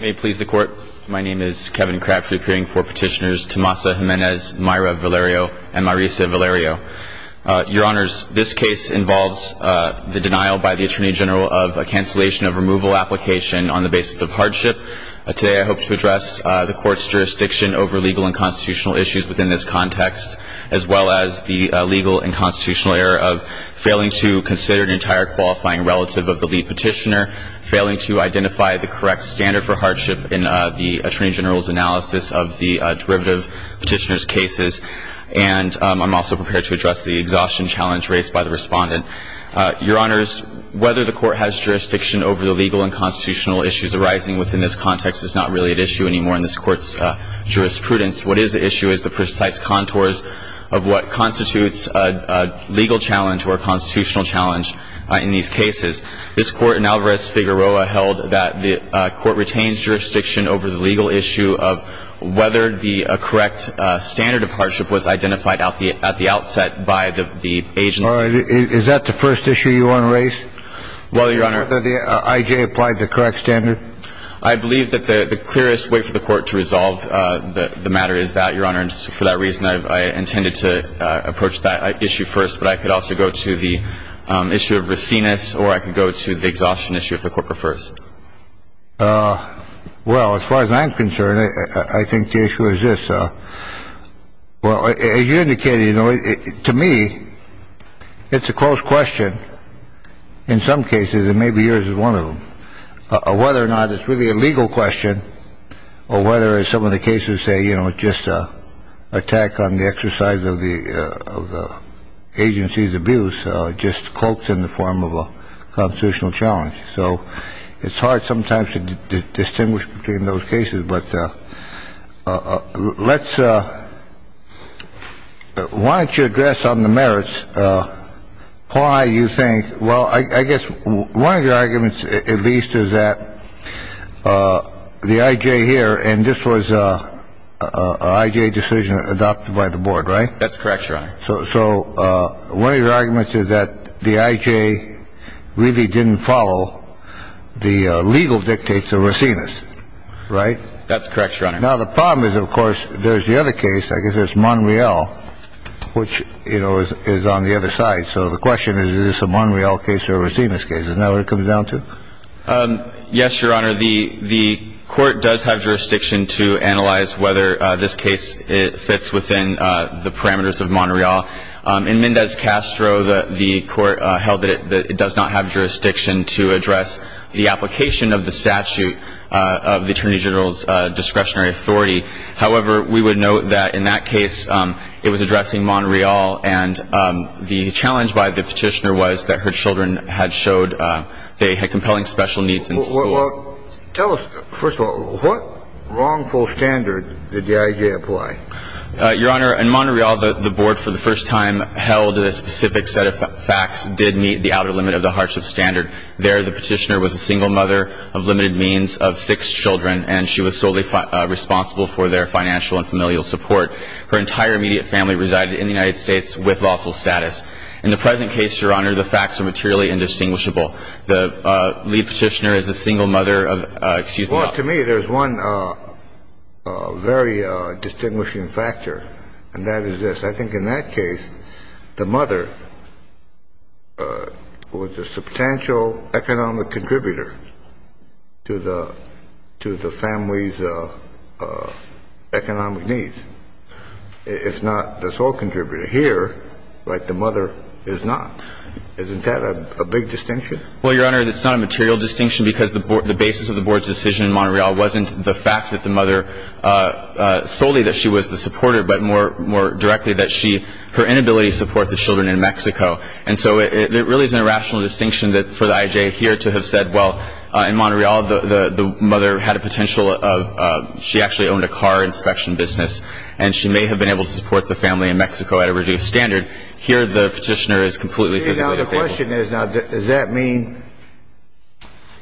May it please the court, my name is Kevin Crabtree, appearing for petitioners Tomasa Jimenez, Mayra Valerio, and Marisa Valerio. Your honors, this case involves the denial by the attorney general of a cancellation of removal application on the basis of hardship. Today I hope to address the court's jurisdiction over legal and constitutional issues within this context, as well as the legal and constitutional error of failing to consider an entire qualifying relative of the lead petitioner, failing to identify the correct standard for hardship in the attorney general's analysis of the derivative petitioner's cases. And I'm also prepared to address the exhaustion challenge raised by the respondent. Your honors, whether the court has jurisdiction over the legal and constitutional issues arising within this context is not really an issue anymore in this court's jurisprudence. What is the issue is the precise contours of what constitutes a legal challenge or a constitutional challenge in these cases. This court in Alvarez-Figueroa held that the court retains jurisdiction over the legal issue of whether the correct standard of hardship was identified at the outset by the agency. Is that the first issue you want to raise? Whether the I.J. applied the correct standard? I believe that the clearest way for the court to resolve the matter is that, your honors. For that reason, I intended to approach that issue first. But I could also go to the issue of Racines or I could go to the exhaustion issue if the court prefers. Well, as far as I'm concerned, I think the issue is this. Well, as you indicated, you know, to me, it's a close question. In some cases, it may be yours is one of them. Whether or not it's really a legal question or whether some of the cases say, you know, it's not just a attack on the exercise of the of the agency's abuse, just cloaked in the form of a constitutional challenge. So it's hard sometimes to distinguish between those cases. But let's why don't you address on the merits? Why you think? Well, I guess one of your arguments, at least, is that the I.J. here and this was a decision adopted by the board. Right. That's correct. So. So one of your arguments is that the I.J. really didn't follow the legal dictates of Racines. Right. That's correct. Now, the problem is, of course, there's the other case. I guess it's Monreal, which, you know, is on the other side. So the question is, is this a Monreal case or Racines case? Now it comes down to. Yes, Your Honor. The the court does have jurisdiction to analyze whether this case fits within the parameters of Monreal. In Mendez Castro, the court held that it does not have jurisdiction to address the application of the statute of the attorney general's discretionary authority. However, we would note that in that case it was addressing Monreal. And the challenge by the petitioner was that her children had showed they had compelling special needs in school. Tell us, first of all, what wrongful standard did the I.J. apply? Your Honor, in Monreal, the board for the first time held a specific set of facts did meet the outer limit of the hardship standard. There, the petitioner was a single mother of limited means of six children, and she was solely responsible for their financial and familial support. Her entire immediate family resided in the United States with lawful status. In the present case, Your Honor, the facts are materially indistinguishable. The lead petitioner is a single mother of — Well, to me, there's one very distinguishing factor, and that is this. I think in that case, the mother was a substantial economic contributor to the family's economic needs, if not the sole contributor. Here, like the mother, is not. Isn't that a big distinction? Well, Your Honor, it's not a material distinction because the basis of the board's decision in Monreal wasn't the fact that the mother solely that she was the supporter, but more directly that her inability to support the children in Mexico. And so it really is an irrational distinction for the I.J. here to have said, well, in Monreal, the mother had a potential of — she actually owned a car inspection business, and she may have been able to support the family in Mexico at a reduced standard. Here, the petitioner is completely physically disabled. The question is, now, does that mean,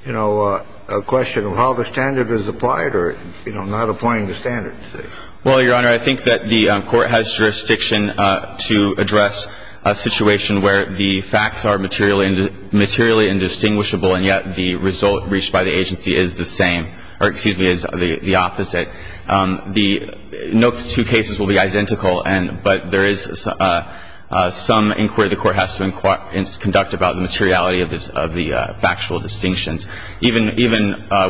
you know, a question of how the standard is applied or, you know, not applying the standard? Well, Your Honor, I think that the Court has jurisdiction to address a situation where the facts are materially indistinguishable, and yet the result reached by the agency is the same — or, excuse me, is the opposite. No two cases will be identical, but there is some inquiry the Court has to conduct about the materiality of the factual distinctions, even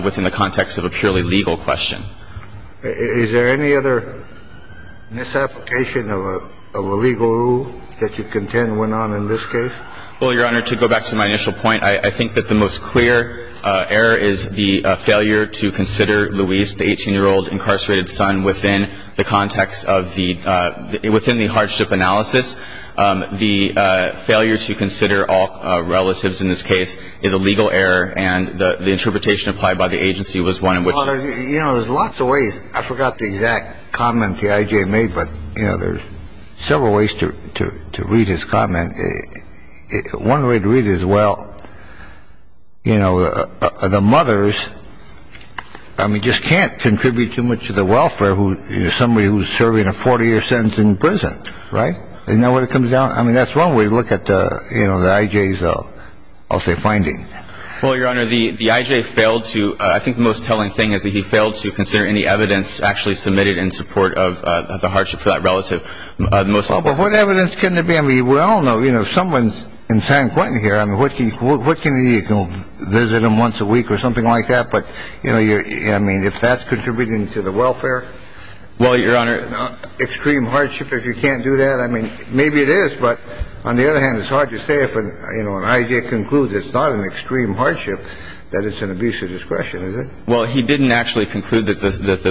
within the context of a purely legal question. Is there any other misapplication of a legal rule that you contend went on in this case? Well, Your Honor, to go back to my initial point, I think that the most clear error is the failure to consider Luis, the 18-year-old incarcerated son, within the context of the — within the hardship analysis. The failure to consider all relatives in this case is a legal error, and the interpretation applied by the agency was one in which — Well, you know, there's lots of ways. I forgot the exact comment the I.J. made, but, you know, there's several ways to read his comment. One way to read it is, well, you know, the mothers, I mean, just can't contribute too much to the welfare of somebody who's serving a 40-year sentence in prison, right? Isn't that what it comes down — I mean, that's one way to look at the — you know, the I.J.'s, I'll say, finding. Well, Your Honor, the I.J. failed to — I think the most telling thing is that he failed to consider any evidence actually submitted in support of the hardship for that relative. Well, but what evidence can there be? I mean, we all know, you know, if someone's in San Quentin here, I mean, what can you do? You can visit them once a week or something like that. But, you know, I mean, if that's contributing to the welfare — Well, Your Honor —— extreme hardship, if you can't do that, I mean, maybe it is. But on the other hand, it's hard to say if, you know, an I.J. concludes it's not an extreme hardship, that it's an abuse of discretion, is it? Well, he didn't actually conclude that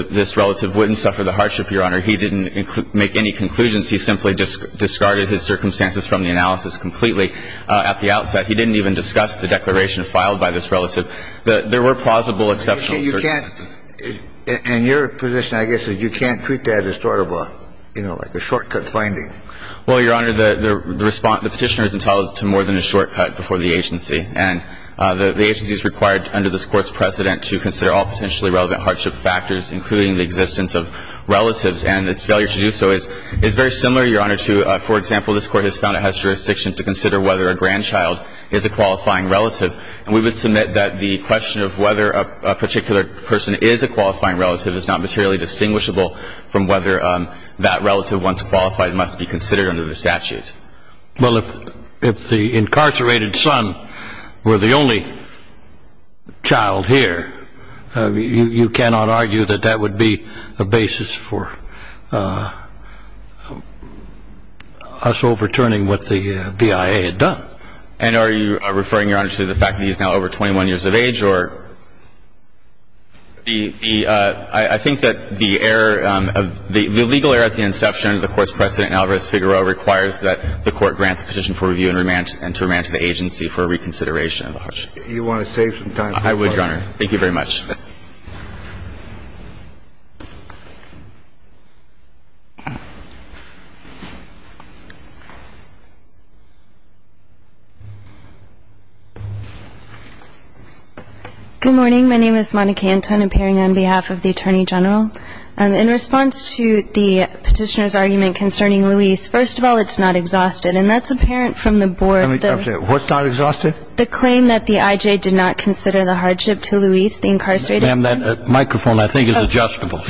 this relative wouldn't suffer the hardship, Your Honor. He didn't make any conclusions. He simply discarded his circumstances from the analysis completely at the outset. He didn't even discuss the declaration filed by this relative. There were plausible exceptional circumstances. And your position, I guess, is you can't treat that as sort of a, you know, like a shortcut finding. Well, Your Honor, the petitioner is entitled to more than a shortcut before the agency. And the agency is required under this Court's precedent to consider all potentially relevant hardship factors, including the existence of relatives. And its failure to do so is very similar, Your Honor, to — for example, this Court has found it has jurisdiction to consider whether a grandchild is a qualifying relative. And we would submit that the question of whether a particular person is a qualifying relative is not materially distinguishable from whether that relative, once qualified, must be considered under the statute. Well, if the incarcerated son were the only child here, you cannot argue that that would be a basis for us overturning what the DIA had done. And are you referring, Your Honor, to the fact that he's now over 21 years of age or — I think that the error of — the legal error at the inception of the Court's precedent in Alvarez-Figueroa requires that the Court grant the petition for review and remand — and to remand to the agency for reconsideration of the hardship. Do you want to save some time? I would, Your Honor. Thank you very much. Good morning. My name is Monica Anton, appearing on behalf of the Attorney General. In response to the petitioner's argument concerning Luis, first of all, it's not exhausted. And that's apparent from the board. What's not exhausted? The claim that the IJ did not consider the hardship to Luis, the incarcerated son. Ma'am, that microphone, I think, is adjustable.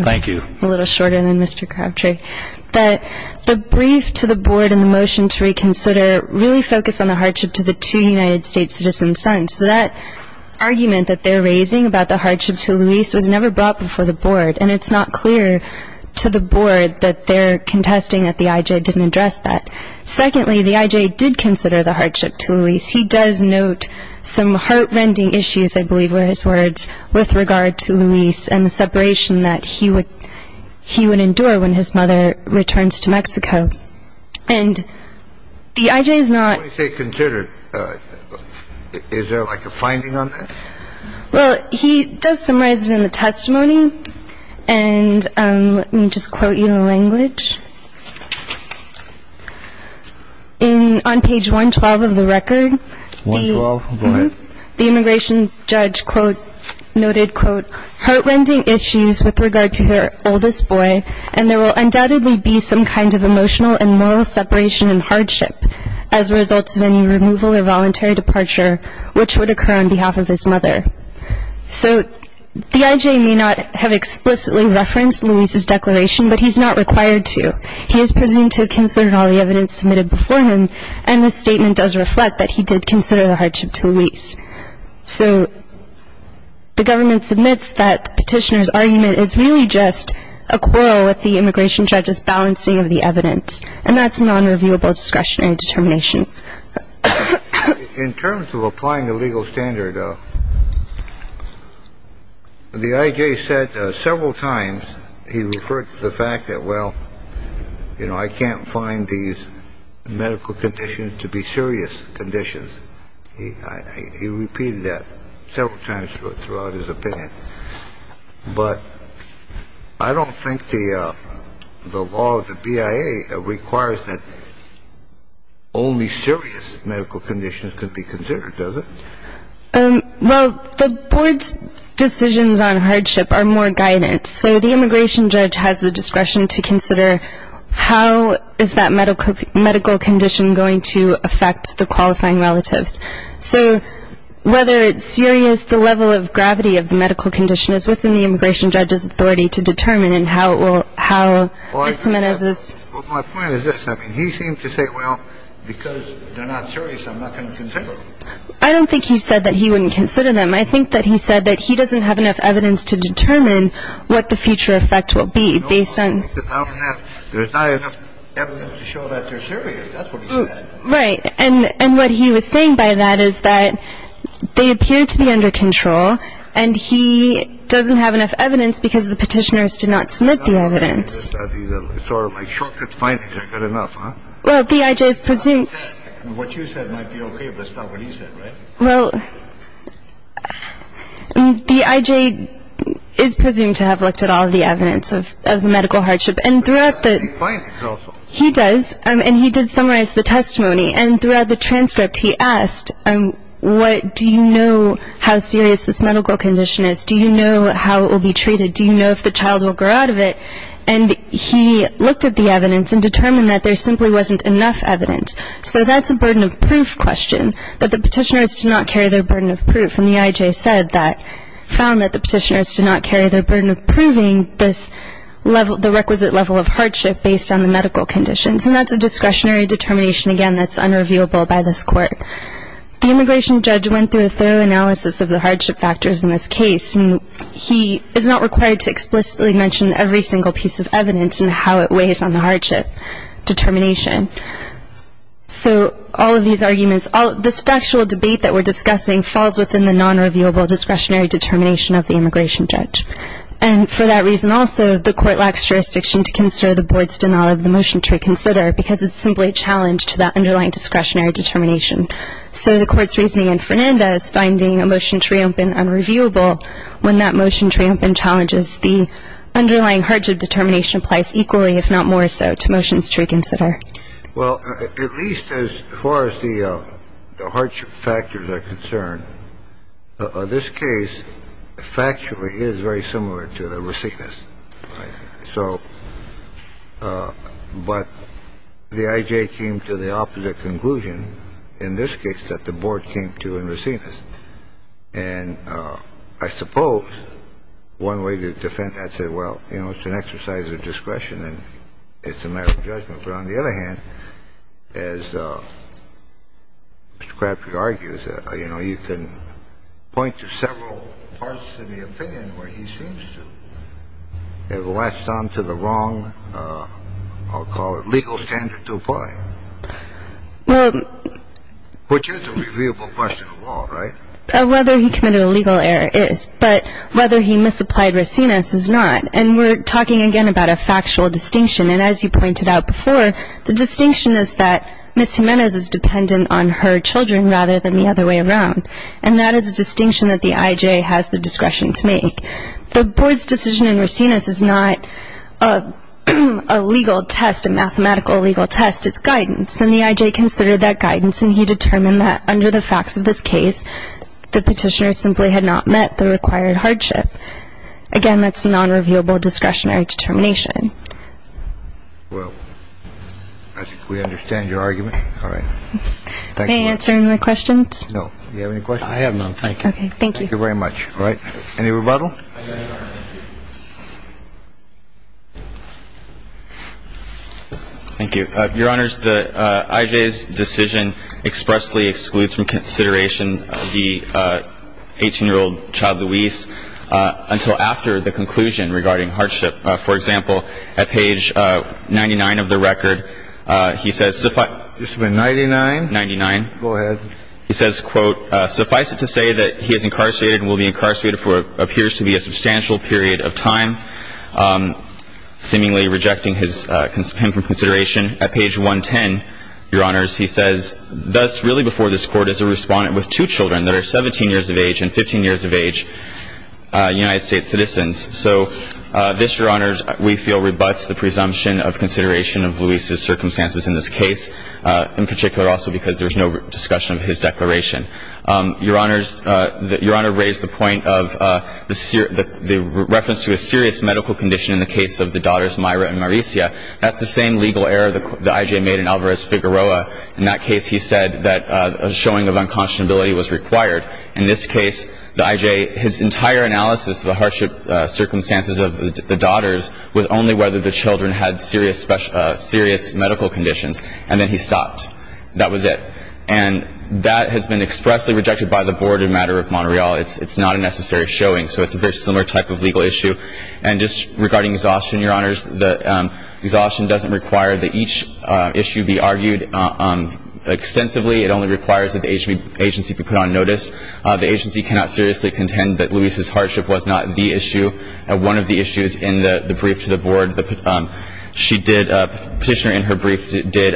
Thank you. A little shorter than Mr. Crabtree. The brief to the board and the motion to reconsider really focus on the hardship to the two United States citizen sons. So that argument that they're raising about the hardship to Luis was never brought before the board. And it's not clear to the board that they're contesting that the IJ didn't address that. Secondly, the IJ did consider the hardship to Luis. He does note some heart-rending issues, I believe were his words, with regard to Luis and the separation that he would endure when his mother returns to Mexico. And the IJ is not — Is there, like, a finding on that? Well, he does summarize it in the testimony. And let me just quote you in a language. On page 112 of the record, the immigration judge noted, quote, heart-rending issues with regard to her oldest boy, and there will undoubtedly be some kind of emotional and moral separation and hardship as a result of any removal or voluntary departure which would occur on behalf of his mother. So the IJ may not have explicitly referenced Luis's declaration, but he's not required to. He is presumed to have considered all the evidence submitted before him, and the statement does reflect that he did consider the hardship to Luis. So the government submits that the petitioner's argument is really just a quarrel with the immigration judge's balancing of the evidence, and that's non-reviewable discretionary determination. In terms of applying the legal standard, the IJ said several times — he referred to the fact that, well, you know, I can't find these medical conditions to be serious conditions. He repeated that several times throughout his opinion. But I don't think the law of the BIA requires that only serious medical conditions can be considered, does it? Well, the board's decisions on hardship are more guidance. So the immigration judge has the discretion to consider how is that medical condition going to affect the qualifying relatives. So whether it's serious, the level of gravity of the medical condition is within the immigration judge's authority to determine, and how it will — how this — Well, my point is this. I mean, he seemed to say, well, because they're not serious, I'm not going to consider them. I don't think he said that he wouldn't consider them. I think that he said that he doesn't have enough evidence to determine what the future effect will be based on — I don't have — there's not enough evidence to show that they're serious. That's what he said. Right. And what he was saying by that is that they appear to be under control, and he doesn't have enough evidence because the petitioners did not submit the evidence. It's sort of like shortcut findings. I've got enough, huh? Well, the I.J. is presumed — What you said might be okay, but it's not what he said, right? Well, the I.J. is presumed to have looked at all the evidence of medical hardship. And throughout the — But he does have the findings also. He does, and he did summarize the testimony. And throughout the transcript, he asked, what — do you know how serious this medical condition is? Do you know how it will be treated? Do you know if the child will grow out of it? And he looked at the evidence and determined that there simply wasn't enough evidence. So that's a burden of proof question, that the petitioners did not carry their burden of proof. And the I.J. said that — found that the petitioners did not carry their burden of proving this level — the requisite level of hardship based on the medical conditions. And that's a discretionary determination, again, that's unreviewable by this court. The immigration judge went through a thorough analysis of the hardship factors in this case. And he is not required to explicitly mention every single piece of evidence and how it weighs on the hardship determination. So all of these arguments — this factual debate that we're discussing falls within the nonreviewable discretionary determination of the immigration judge. And for that reason also, the court lacks jurisdiction to consider the board's denial of the motion to reconsider because it's simply a challenge to that underlying discretionary determination. So the court's reasoning in Fernanda is finding a motion to reopen unreviewable. When that motion to reopen challenges the underlying hardship determination applies equally, if not more so, to motions to reconsider. Well, at least as far as the hardship factors are concerned, this case factually is very similar to the Racines. So — but the I.J. came to the opposite conclusion in this case that the board came to in Racines. And I suppose one way to defend that said, well, you know, it's an exercise of discretion and it's a matter of judgment. But on the other hand, as Mr. Crabtree argues, you know, you can point to several parts of the opinion where he seems to have latched on to the wrong — I'll call it legal standard to apply. Well — Which is a reviewable question of law, right? Whether he committed a legal error is, but whether he misapplied Racines is not. And we're talking again about a factual distinction. And as you pointed out before, the distinction is that Ms. Jimenez is dependent on her children rather than the other way around. And that is a distinction that the I.J. has the discretion to make. The board's decision in Racines is not a legal test, a mathematical legal test. It's guidance. And the I.J. considered that guidance and he determined that under the facts of this case, the petitioner simply had not met the required hardship. Again, that's a nonreviewable discretionary determination. Well, I think we understand your argument. All right. Thank you. May I answer any more questions? No. Do you have any questions? I have none. Thank you. Okay. Thank you. Thank you very much. All right. Any rebuttal? Thank you. Your Honor, the I.J.'s decision expressly excludes from consideration the 18-year-old child, Luis, until after the conclusion regarding hardship. For example, at page 99 of the record, he says suffice to say that he is incarcerated and will be incarcerated for what appears to be a substantial period of time, seemingly rejecting him from consideration. At page 110, Your Honors, he says thus really before this Court is a respondent with two children that are 17 years of age and 15 years of age United States citizens. So this, Your Honors, we feel rebuts the presumption of consideration of Luis's circumstances in this case, in particular also because there's no discussion of his declaration. Your Honors, Your Honor raised the point of the reference to a serious medical condition in the case of the daughters Mayra and Mauricia. That's the same legal error the I.J. made in Alvarez-Figueroa. In that case, he said that a showing of unconscionability was required. In this case, the I.J., his entire analysis of the hardship circumstances of the daughters was only whether the children had serious medical conditions, and then he stopped. That was it. And that has been expressly rejected by the Board in the matter of Montreal. It's not a necessary showing. So it's a very similar type of legal issue. And just regarding exhaustion, Your Honors, the exhaustion doesn't require that each issue be argued extensively. It only requires that the agency be put on notice. The agency cannot seriously contend that Luis's hardship was not the issue. One of the issues in the brief to the Board, she did, petitioner in her brief, did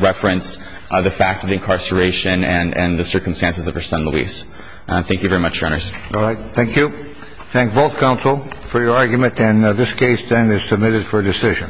reference the fact of incarceration and the circumstances of her son Luis. Thank you very much, Your Honors. All right. Thank you. Thank both counsel for your argument. And this case then is submitted for decision.